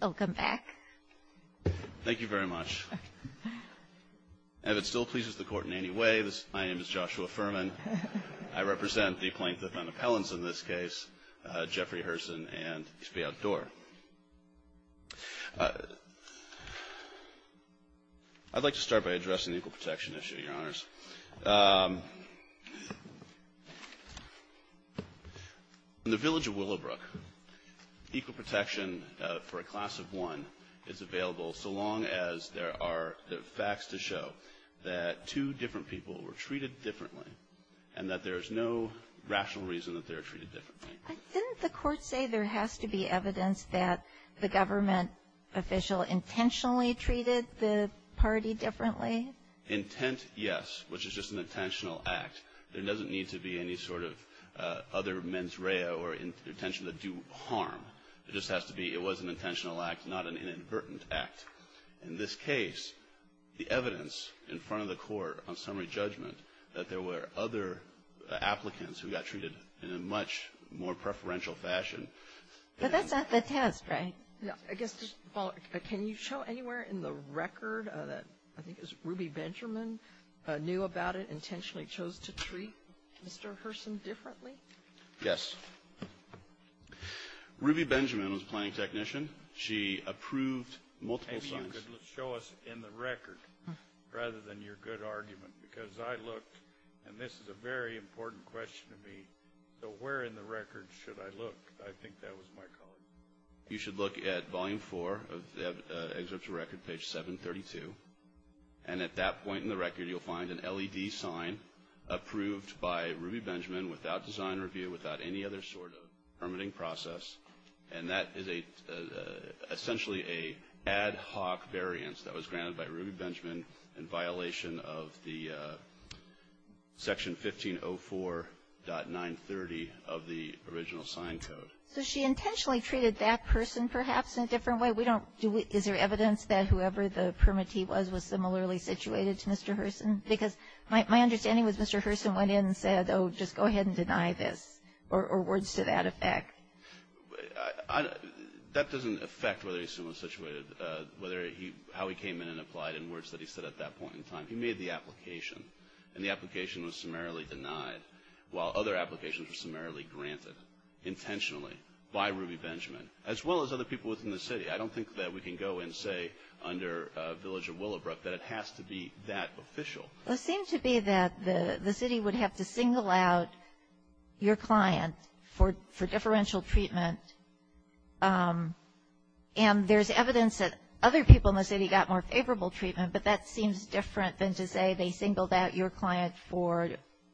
Welcome back. Thank you very much. And if it still pleases the court in any way, my name is Joshua Furman. I represent the plaintiff on appellants in this case, Jeffrey Herson and East Bay Outdoor. I'd like to start by addressing the equal protection issue, Your Honors. In the village of Willowbrook, equal protection for a class of one is available so long as there are facts to show that two different people were treated differently and that there is no rational reason that they were treated differently. Didn't the court say there has to be evidence that the government official intentionally treated the party differently? Intent, yes, which is just an intentional act. There doesn't need to be any sort of other mens rea or intention to do harm. It just has to be it was an intentional act, not an inadvertent act. In this case, the evidence in front of the court on summary judgment that there were other applicants who got treated in a much more preferential fashion. But that's not the test, right? Can you show anywhere in the record that I think it was Ruby Benjamin knew about it, intentionally chose to treat Mr. Herson differently? Yes. Ruby Benjamin was a planning technician. She approved multiple signs. Show us in the record rather than your good argument, because I looked, and this is a very important question to me. So where in the record should I look? I think that was my call. You should look at Volume 4 of the excerpt to record, page 732. And at that point in the record, you'll find an LED sign approved by Ruby Benjamin without design review, without any other sort of permitting process. And that is essentially an ad hoc variance that was granted by Ruby Benjamin in violation of the Section 1504.930 of the original sign code. So she intentionally treated that person perhaps in a different way? Is there evidence that whoever the permittee was was similarly situated to Mr. Herson? Because my understanding was Mr. Herson went in and said, oh, just go ahead and deny this, or words to that effect. That doesn't affect whether he was situated, how he came in and applied in words that he said at that point in time. He made the application. And the application was summarily denied, while other applications were summarily granted, intentionally, by Ruby Benjamin, as well as other people within the city. I don't think that we can go and say under Village of Willowbrook that it has to be that official. It seemed to be that the city would have to single out your client for differential treatment. And there's evidence that other people in the city got more favorable treatment, but that seems different than to say they singled out your client for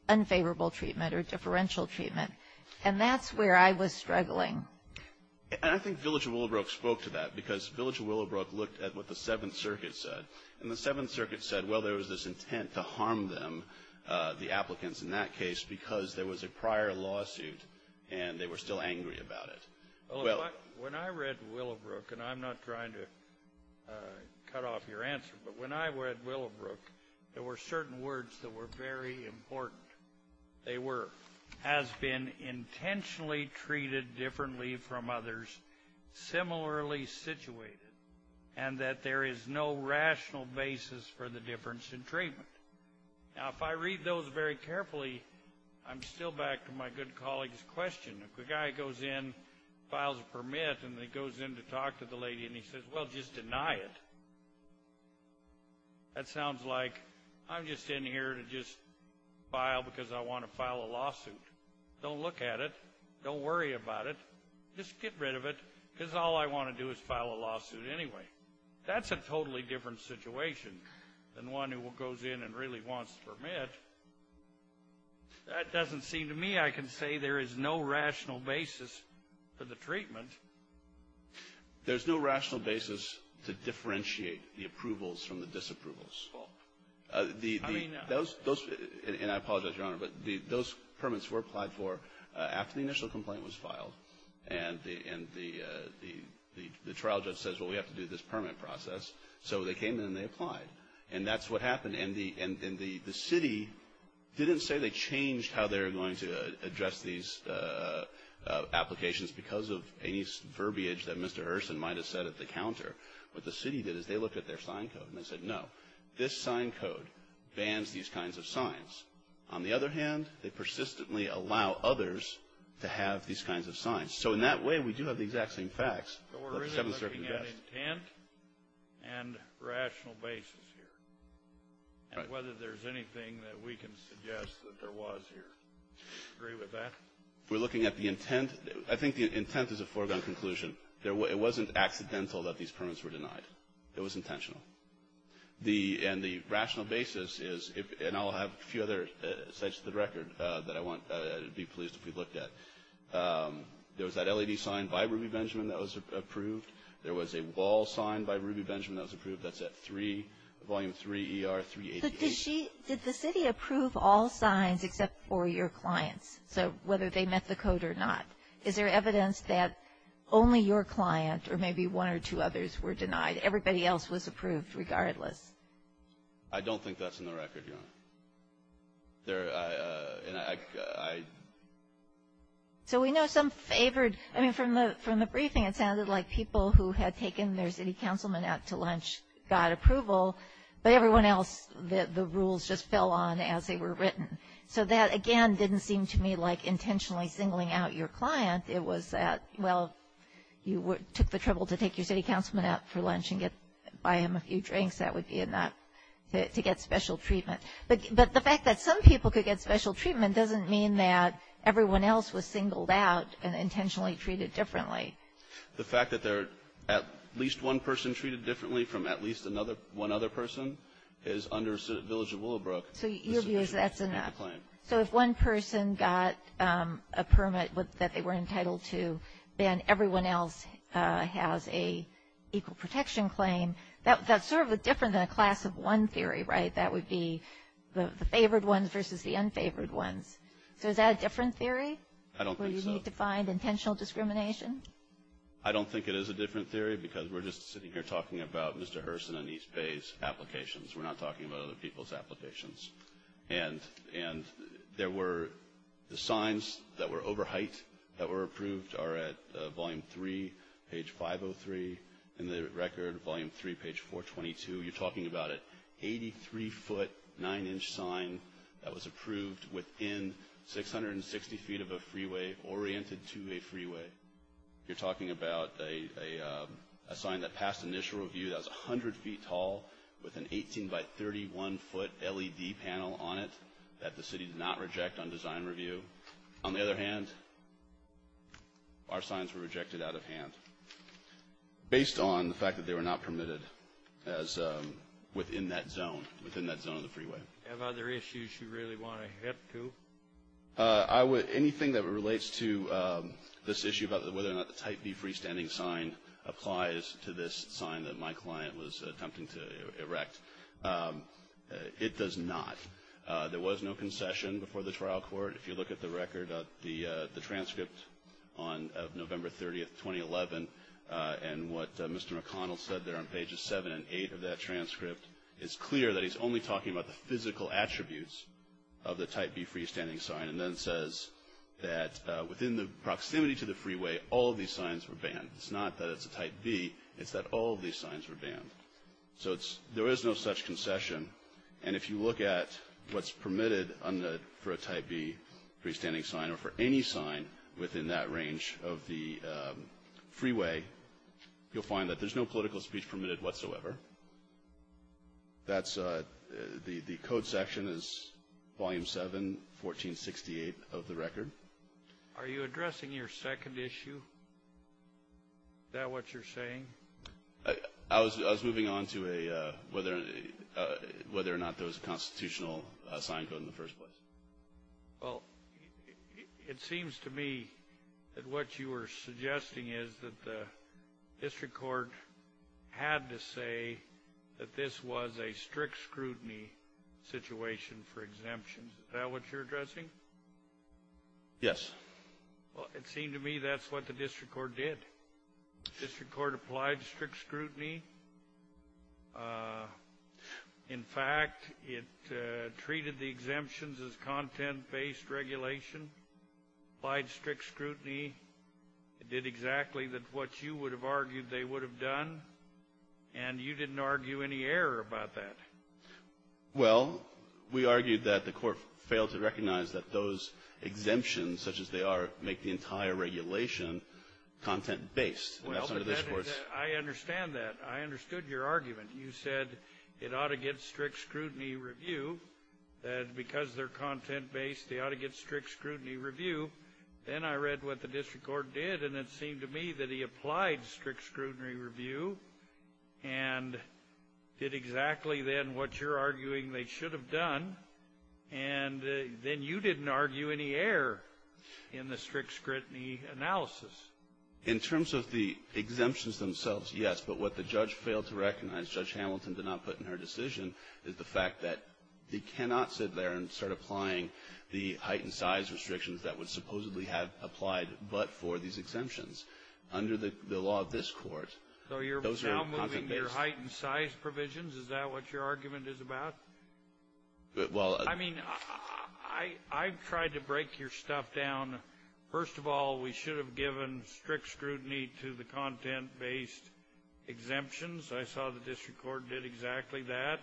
unfavorable treatment or differential treatment. And that's where I was struggling. And I think Village of Willowbrook spoke to that, because Village of Willowbrook looked at what the Seventh Circuit said. And the Seventh Circuit said, well, there was this intent to harm them, the applicants in that case, because there was a prior lawsuit and they were still angry about it. Well, when I read Willowbrook, and I'm not trying to cut off your answer, but when I read Willowbrook, there were certain words that were very important. They were, has been intentionally treated differently from others, similarly situated, and that there is no rational basis for the difference in treatment. Now, if I read those very carefully, I'm still back to my good colleague's question. If the guy goes in, files a permit, and then goes in to talk to the lady and he says, well, just deny it, that sounds like I'm just in here to just file because I want to file a lawsuit. Don't look at it. Don't worry about it. Just get rid of it, because all I want to do is file a lawsuit anyway. That's a totally different situation than one who goes in and really wants a permit. That doesn't seem to me I can say there is no rational basis for the treatment. There's no rational basis to differentiate the approvals from the disapprovals. Those, and I apologize, Your Honor, but those permits were applied for after the initial complaint was filed, and the trial judge says, well, we have to do this permit process. So they came in and they applied, and that's what happened. And the city didn't say they changed how they were going to address these applications because of any verbiage that Mr. Hurson might have said at the counter. What the city did is they looked at their sign code and they said, no, this sign code bans these kinds of signs. On the other hand, they persistently allow others to have these kinds of signs. So in that way, we do have the exact same facts. But we're really looking at intent and rational basis here, and whether there's anything that we can suggest that there was here. Do you agree with that? We're looking at the intent. I think the intent is a foregone conclusion. It wasn't accidental that these permits were denied. It was intentional. And the rational basis is, and I'll have a few other sites of the record that I'd be pleased if we looked at. There was that LED sign by Ruby Benjamin that was approved. There was a wall sign by Ruby Benjamin that was approved. That's at 3, Volume 3 ER 388. Did the city approve all signs except for your clients, so whether they met the code or not? Is there evidence that only your client or maybe one or two others were denied? Everybody else was approved regardless? I don't think that's in the record, Your Honor. So we know some favored. I mean, from the briefing, it sounded like people who had taken their city councilman out to lunch got approval, but everyone else, the rules just fell on as they were written. So that, again, didn't seem to me like intentionally singling out your client. It was that, well, you took the trouble to take your city councilman out for lunch and buy him a few drinks. That would be enough to get special treatment. But the fact that some people could get special treatment doesn't mean that everyone else was singled out and intentionally treated differently. The fact that at least one person treated differently from at least one other person is under Village of Willowbrook. So your view is that's enough. So if one person got a permit that they were entitled to, then everyone else has an equal protection claim. That's sort of different than a class of one theory, right? That would be the favored ones versus the unfavored ones. So is that a different theory? I don't think so. I don't think it is a different theory because we're just sitting here talking about Mr. Herson and East Bay's applications. We're not talking about other people's applications. And there were the signs that were over height that were approved are at Volume 3, page 503. In the record, Volume 3, page 422, you're talking about an 83-foot, 9-inch sign that was approved within 660 feet of a freeway oriented to a freeway. You're talking about a sign that passed initial review that was 100 feet tall with an 18-by-31-foot LED panel on it that the city did not reject on design review. On the other hand, our signs were rejected out of hand based on the fact that they were not permitted as within that zone, within that zone of the freeway. Do you have other issues you really want to hit up to? Anything that relates to this issue about whether or not the Type B freestanding sign applies to this sign that my client was attempting to erect, it does not. There was no concession before the trial court. If you look at the record of the transcript on November 30, 2011, and what Mr. McConnell said there on pages 7 and 8 of that transcript, it's clear that he's only talking about the physical attributes of the Type B freestanding sign and then says that within the proximity to the freeway, all of these signs were banned. It's not that it's a Type B, it's that all of these signs were banned. So there is no such concession. And if you look at what's permitted for a Type B freestanding sign or for any sign within that range of the freeway, you'll find that there's no political speech permitted whatsoever. The code section is Volume 7, 1468 of the record. Are you addressing your second issue? Is that what you're saying? I was moving on to whether or not there was a constitutional sign code in the first place. Well, it seems to me that what you were suggesting is that the district court had to say that this was a strict scrutiny situation for exemptions. Is that what you're addressing? Yes. Well, it seemed to me that's what the district court did. The district court applied strict scrutiny. In fact, it treated the exemptions as content-based regulation, applied strict scrutiny. It did exactly what you would have argued they would have done. And you didn't argue any error about that. Well, we argued that the court failed to recognize that those exemptions, such as they are, make the entire regulation content-based. Well, I understand that. I understood your argument. You said it ought to get strict scrutiny review. And because they're content-based, they ought to get strict scrutiny review. Then I read what the district court did, and it seemed to me that he applied strict scrutiny review and did exactly then what you're arguing they should have done. And then you didn't argue any error in the strict scrutiny analysis. In terms of the exemptions themselves, yes. But what the judge failed to recognize, Judge Hamilton did not put in her decision, is the fact that they cannot sit there and start applying the height and size restrictions that would supposedly have applied but for these exemptions. Under the law of this Court, those are content-based. So you're now moving to your height and size provisions? Is that what your argument is about? Well, I mean, I've tried to break your stuff down. First of all, we should have given strict scrutiny to the content-based exemptions. I saw the district court did exactly that.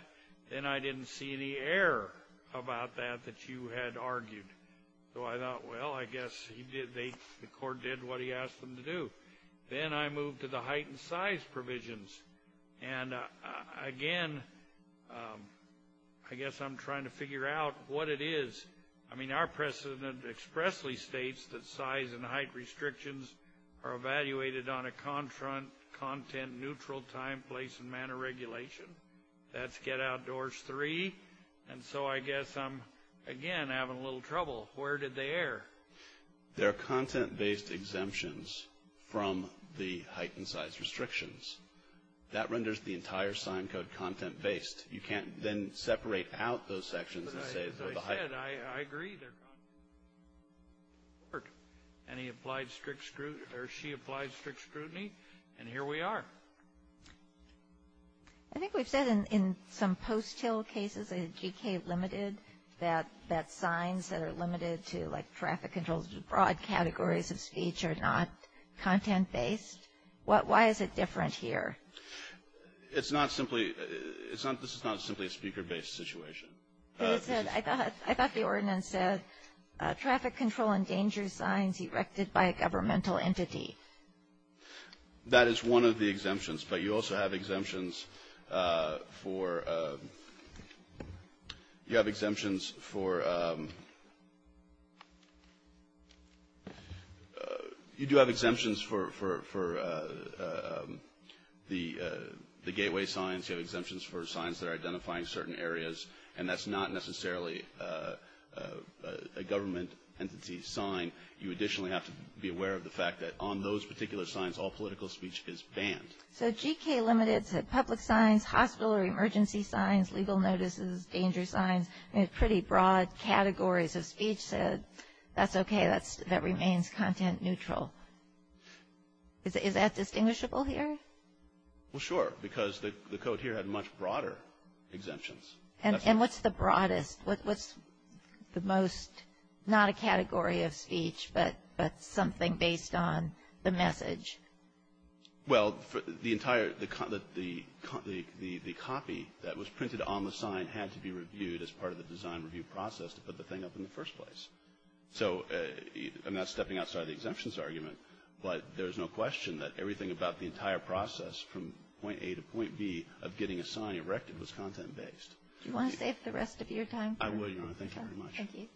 Then I didn't see any error about that that you had argued. So I thought, well, I guess the court did what he asked them to do. Then I moved to the height and size provisions. And, again, I guess I'm trying to figure out what it is. I mean, our precedent expressly states that size and height restrictions are evaluated on a content-neutral time, place, and manner regulation. That's Get Outdoors 3. And so I guess I'm, again, having a little trouble. Where did they err? They're content-based exemptions from the height and size restrictions. That renders the entire sign code content-based. You can't then separate out those sections and say they're the height and size. But, as I said, I agree they're content-based. And he applied strict scrutiny, or she applied strict scrutiny. And here we are. I think we've said in some post-till cases, in GK limited, that signs that are limited to, like, traffic controls, broad categories of speech are not content-based. Why is it different here? It's not simply – this is not simply a speaker-based situation. I thought the ordinance said traffic control endangers signs erected by a governmental entity. That is one of the exemptions. But you also have exemptions for – you have exemptions for – you do have exemptions for the gateway signs. You have exemptions for signs that are identifying certain areas. And that's not necessarily a government entity sign. You additionally have to be aware of the fact that on those particular signs, all political speech is banned. So GK limited said public signs, hospital or emergency signs, legal notices, danger signs, pretty broad categories of speech said, that's okay, that remains content-neutral. Is that distinguishable here? Well, sure, because the code here had much broader exemptions. And what's the broadest? What's the most – not a category of speech, but something based on the message? Well, the entire – the copy that was printed on the sign had to be reviewed as part of the design review process to put the thing up in the first place. So I'm not stepping outside the exemptions argument, but there's no question that everything about the entire process from point A to point B of getting a sign erected was content-based. Do you want to save the rest of your time? I will, Your Honor. Thank you very much. Thank you.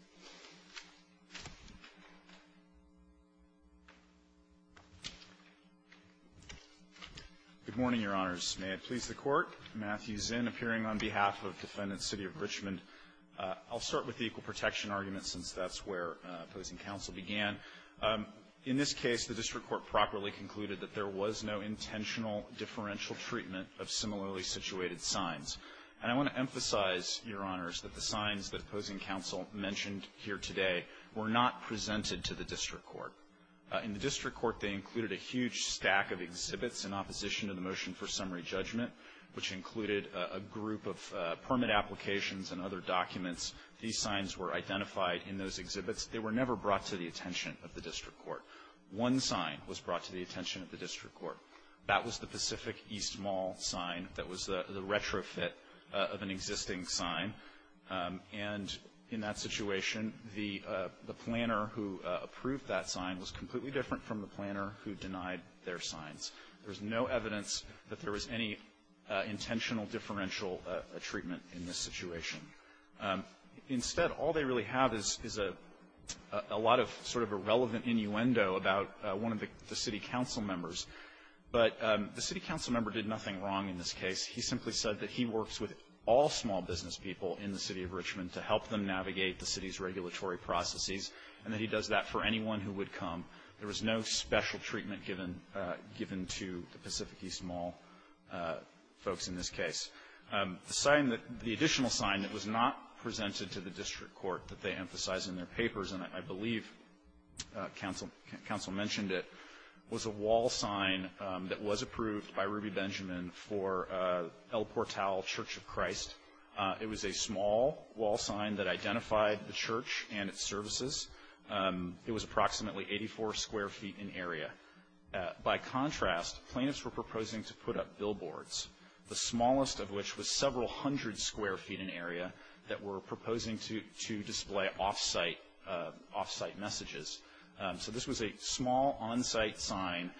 Good morning, Your Honors. May it please the Court. Matthew Zinn appearing on behalf of Defendant City of Richmond. I'll start with the equal protection argument since that's where opposing counsel began. In this case, the district court properly concluded that there was no intentional differential treatment of similarly situated signs. And I want to emphasize, Your Honors, that the signs that opposing counsel mentioned here today were not presented to the district court. In the district court, they included a huge stack of exhibits in opposition to the motion for summary judgment, which included a group of permit applications and other documents. These signs were identified in those exhibits. They were never brought to the attention of the district court. One sign was brought to the attention of the district court. That was the Pacific East Mall sign that was the retrofit of an existing sign. And in that situation, the planner who approved that sign was completely different from the planner who denied their signs. There was no evidence that there was any intentional differential treatment in this situation. Instead, all they really have is a lot of sort of a relevant innuendo about one of the city council members. But the city council member did nothing wrong in this case. He simply said that he works with all small business people in the city of Richmond to help them navigate the city's regulatory processes, and that he does that for anyone who would come. There was no special treatment given to the Pacific East Mall folks in this case. The sign that the additional sign that was not presented to the district court that they was a wall sign that was approved by Ruby Benjamin for El Portal Church of Christ. It was a small wall sign that identified the church and its services. It was approximately 84 square feet in area. By contrast, plaintiffs were proposing to put up billboards, the smallest of which was several hundred square feet in area, that were proposing to display off-site messages. So this was a small on-site sign.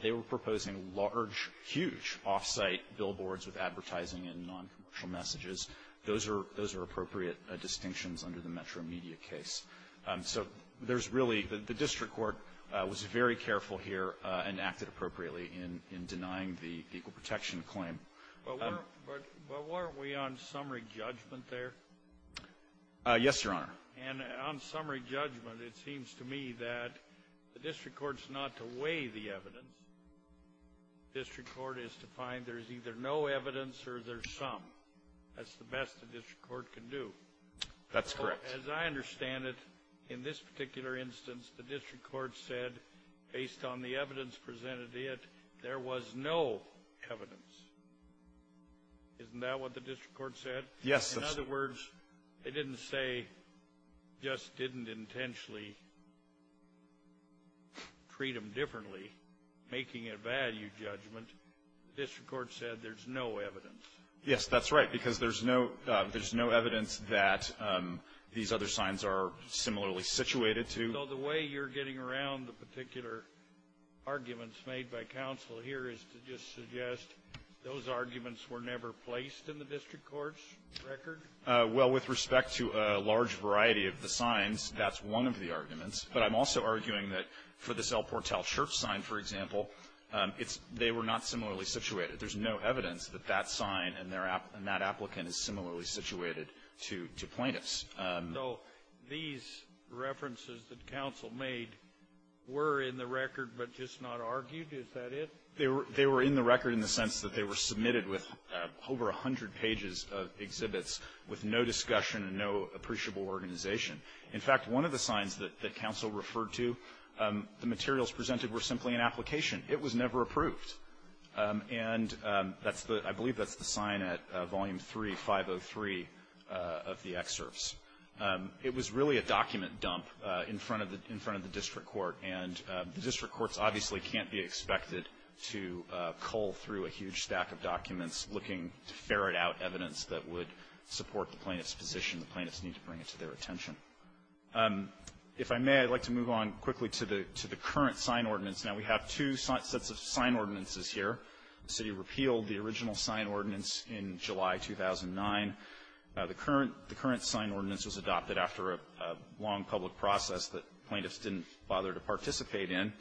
They were proposing large, huge off-site billboards with advertising and noncommercial messages. Those are appropriate distinctions under the Metro Media case. So there's really the district court was very careful here and acted appropriately in denying the equal protection claim. But weren't we on summary judgment there? Yes, Your Honor. And on summary judgment, it seems to me that the district court's not to weigh the evidence. The district court is to find there's either no evidence or there's some. That's the best the district court can do. That's correct. As I understand it, in this particular instance, the district court said, based on the evidence presented to it, there was no evidence. Isn't that what the district court said? Yes. In other words, they didn't say, just didn't intentionally treat them differently, making a value judgment. The district court said there's no evidence. Yes, that's right, because there's no evidence that these other signs are similarly situated to. So the way you're getting around the particular arguments made by counsel here is to just suggest those arguments were never placed in the district court's record? Well, with respect to a large variety of the signs, that's one of the arguments. But I'm also arguing that for this El Portal Church sign, for example, it's they were not similarly situated. There's no evidence that that sign and that applicant is similarly situated to plaintiffs. So these references that counsel made were in the record but just not argued? Is that it? They were in the record in the sense that they were submitted with over 100 pages of exhibits with no discussion and no appreciable organization. In fact, one of the signs that counsel referred to, the materials presented were simply an application. It was never approved. And that's the – I believe that's the sign at Volume 3, 503 of the excerpts. It was really a document dump in front of the district court. And the district courts obviously can't be expected to cull through a huge stack of documents looking to ferret out evidence that would support the plaintiff's position. The plaintiffs need to bring it to their attention. If I may, I'd like to move on quickly to the current sign ordinance. Now, we have two sets of sign ordinances here. The city repealed the original sign ordinance in July 2009. The current sign ordinance was adopted after a long public process that plaintiffs didn't bother to participate in.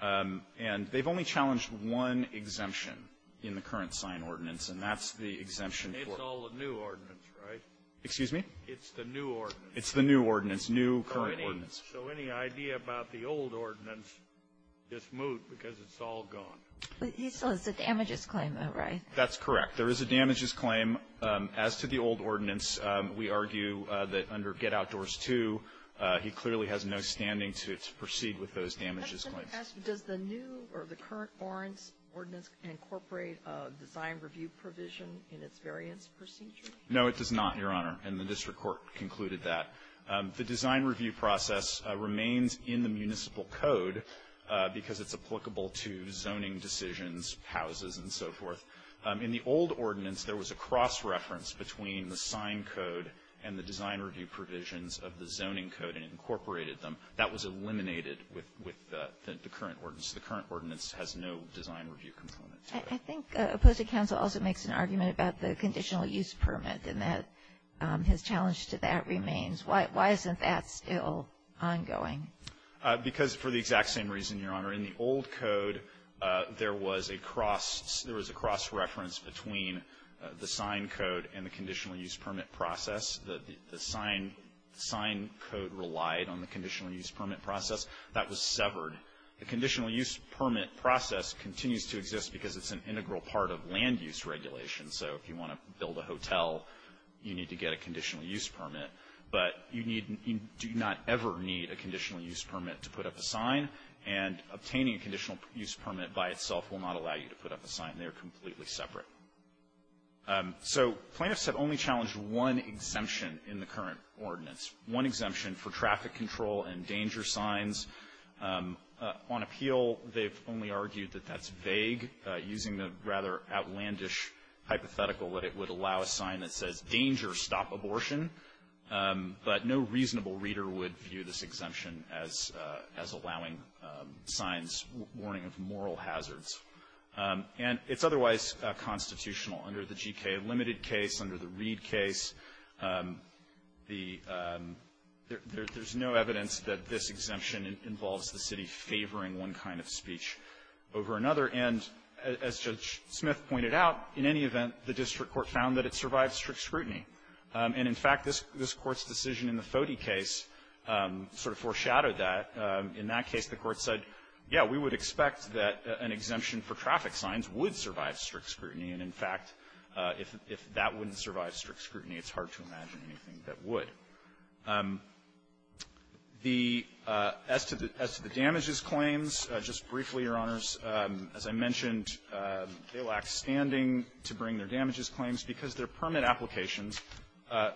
And they've only challenged one exemption in the current sign ordinance, and that's the exemption for – It's all a new ordinance, right? Excuse me? It's the new ordinance. It's the new ordinance, new current ordinance. So any idea about the old ordinance is moot because it's all gone. So it's a damages claim, though, right? That's correct. There is a damages claim. As to the old ordinance, we argue that under Get Outdoors 2, he clearly has no standing to proceed with those damages claims. Does the new or the current ordinance incorporate a design review provision in its variance procedure? No, it does not, Your Honor. And the district court concluded that. The design review process remains in the municipal code because it's applicable to zoning decisions, houses, and so forth. In the old ordinance, there was a cross-reference between the sign code and the design review provisions of the zoning code, and it incorporated them. That was eliminated with the current ordinance. The current ordinance has no design review component to it. I think opposed to counsel also makes an argument about the conditional use permit and that his challenge to that remains. Why isn't that still ongoing? Because for the exact same reason, Your Honor. In the old code, there was a cross – there was a cross-reference between the sign code and the conditional use permit process. The sign code relied on the conditional use permit process. That was severed. The conditional use permit process continues to exist because it's an integral part of land use regulation. So if you want to build a hotel, you need to get a conditional use permit. But you need – you do not ever need a conditional use permit to put up a sign, and obtaining a conditional use permit by itself will not allow you to put up a sign. They are completely separate. So plaintiffs have only challenged one exemption in the current ordinance, one exemption for traffic control and danger signs. On appeal, they've only argued that that's vague, using the rather outlandish hypothetical that it would allow a sign that says, danger, stop abortion. But no reasonable reader would view this exemption as allowing signs warning of moral hazards. And it's otherwise constitutional. Under the G.K. Limited case, under the Reed case, the – there's no evidence that this exemption involves the city favoring one kind of speech over another. And as Judge Smith pointed out, in any event, the district court found that it survived strict scrutiny. And in fact, this Court's decision in the Foti case sort of foreshadowed that. In that case, the Court said, yeah, we would expect that an exemption for traffic signs would survive strict scrutiny, and in fact, if that wouldn't survive strict scrutiny, it's hard to imagine anything that would. The – as to the – as to the damages claims, just briefly, Your Honors, as I mentioned, they lack standing to bring their damages claims because their permit applications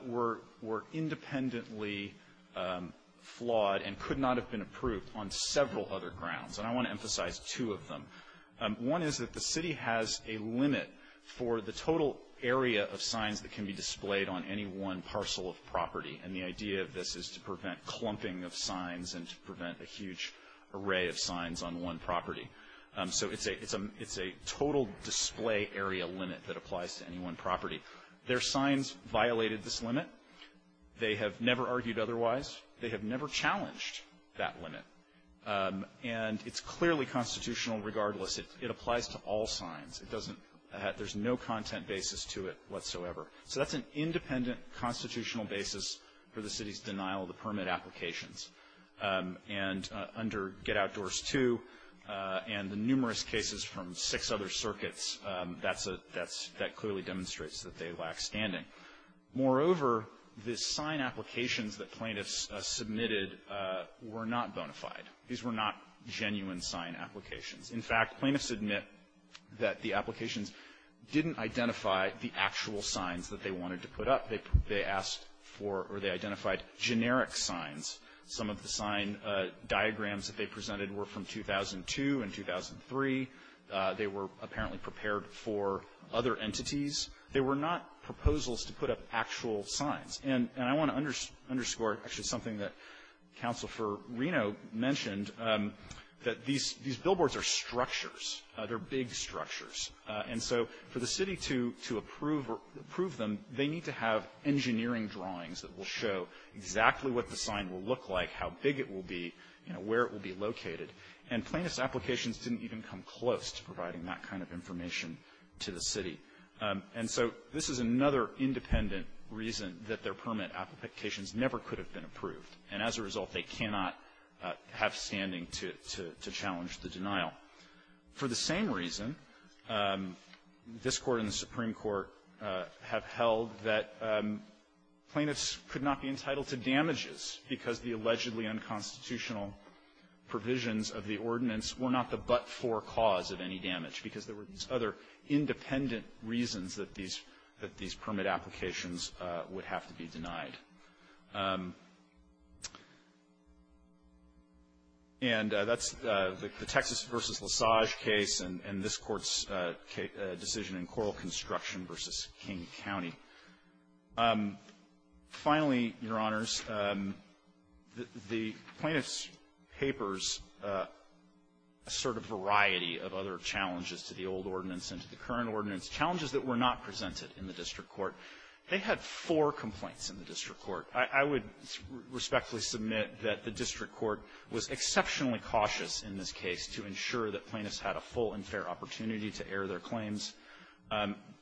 were – were independently flawed and could not have been approved on several other grounds. And I want to emphasize two of them. One is that the city has a limit for the total area of signs that can be displayed on any one parcel of property. And the idea of this is to prevent clumping of signs and to prevent a huge array of signs on one property. So it's a – it's a total display area limit that applies to any one property. Their signs violated this limit. They have never argued otherwise. They have never challenged that limit. And it's clearly constitutional regardless. It applies to all signs. It doesn't – there's no content basis to it whatsoever. So that's an independent constitutional basis for the city's denial of the permit applications. And under Get Outdoors 2 and the numerous cases from six other circuits, that's a – that clearly demonstrates that they lack standing. Moreover, the sign applications that plaintiffs submitted were not bona fide. These were not genuine sign applications. In fact, plaintiffs admit that the applications didn't identify the actual signs that they wanted to put up. They asked for – or they identified generic signs. Some of the sign diagrams that they presented were from 2002 and 2003. They were apparently prepared for other entities. They were not proposals to put up actual signs. And I want to underscore actually something that Counsel for Reno mentioned, that these billboards are structures. They're big structures. And so for the city to approve them, they need to have engineering drawings that will show exactly what the sign will look like, how big it will be, you know, where it will be located. And plaintiffs' applications didn't even come close to providing that kind of information to the city. And so this is another independent reason that their permit applications never could have been approved. And as a result, they cannot have standing to challenge the denial. For the same reason, this Court and the Supreme Court have held that plaintiffs could not be entitled to damages because the allegedly unconstitutional provisions of the ordinance were not the but-for cause of any damage because there were these other independent reasons that these permit applications would have to be denied. And that's the Texas v. Lissage case and this Court's decision in Coral Construction v. King County. Finally, Your Honors, the plaintiffs' papers assert a variety of other challenges to the old ordinance and to the current ordinance, challenges that were not presented in the district court. They had four complaints in the district court. I would respectfully submit that the district court was exceptionally cautious in this case to ensure that plaintiffs had a full and fair opportunity to air their claims.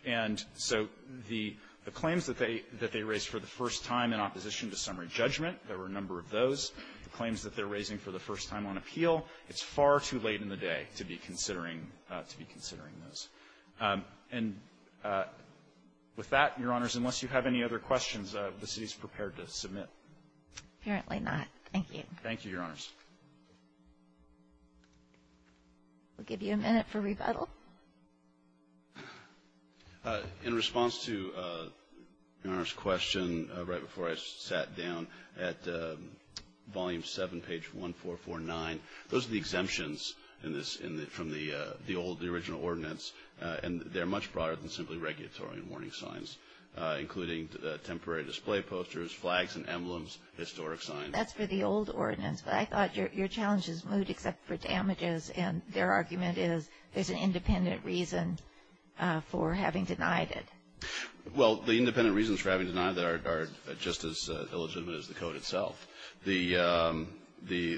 And so the claims that they raised for the first time in opposition to summary judgment, there were a number of those. The claims that they're raising for the first time on appeal, it's far too late in the day to be considering those. And with that, Your Honors, unless you have any other questions, the City is prepared to submit. Apparently not. Thank you. Thank you, Your Honors. We'll give you a minute for rebuttal. In response to Your Honors' question right before I sat down, at Volume 7, page 1449, those are the exemptions from the old, the original ordinance, and they're much broader than simply regulatory and warning signs, including temporary display posters, flags and emblems, historic signs. That's for the old ordinance, but I thought your challenge is moot except for damages, and their argument is there's an independent reason for having denied it. Well, the independent reasons for having denied it are just as illegitimate as the code itself. The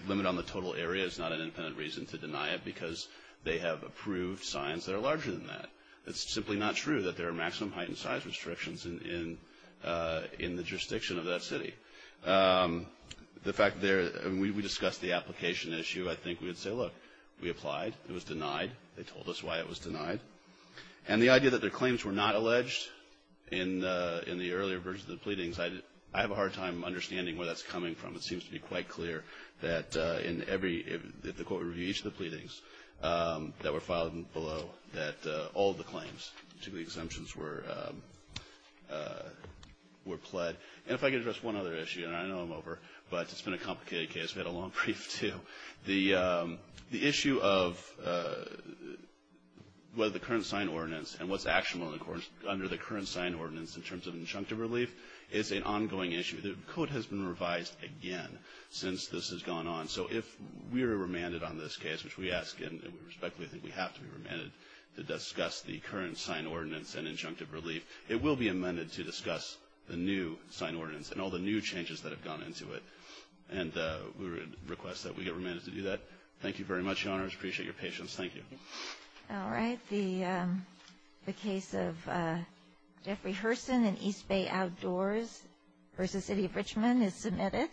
limit on the total area is not an independent reason to deny it because they have approved signs that are larger than that. It's simply not true that there are maximum height and size restrictions in the jurisdiction of that city. The fact there, and we discussed the application issue. I think we would say, look, we applied. It was denied. They told us why it was denied. And the idea that their claims were not alleged in the earlier versions of the pleadings, I have a hard time understanding where that's coming from. It seems to be quite clear that in every, in the court review, each of the pleadings that were filed below, that all the claims to the exemptions were pled. And if I could address one other issue, and I know I'm over, but it's been a complicated case. We had a long brief, too. The issue of whether the current sign ordinance and what's actionable under the current sign ordinance in terms of injunctive relief is an ongoing issue. The code has been revised again since this has gone on. So if we are remanded on this case, which we ask, and we respectfully think we have to be remanded, to discuss the current sign ordinance and injunctive relief, it will be amended to discuss the new sign ordinance and all the new changes that have gone into it. And we request that we get remanded to do that. Thank you very much, Your Honors. Appreciate your patience. Thank you. All right. The case of Jeffrey Herson and East Bay Outdoors versus City of Richmond is submitted.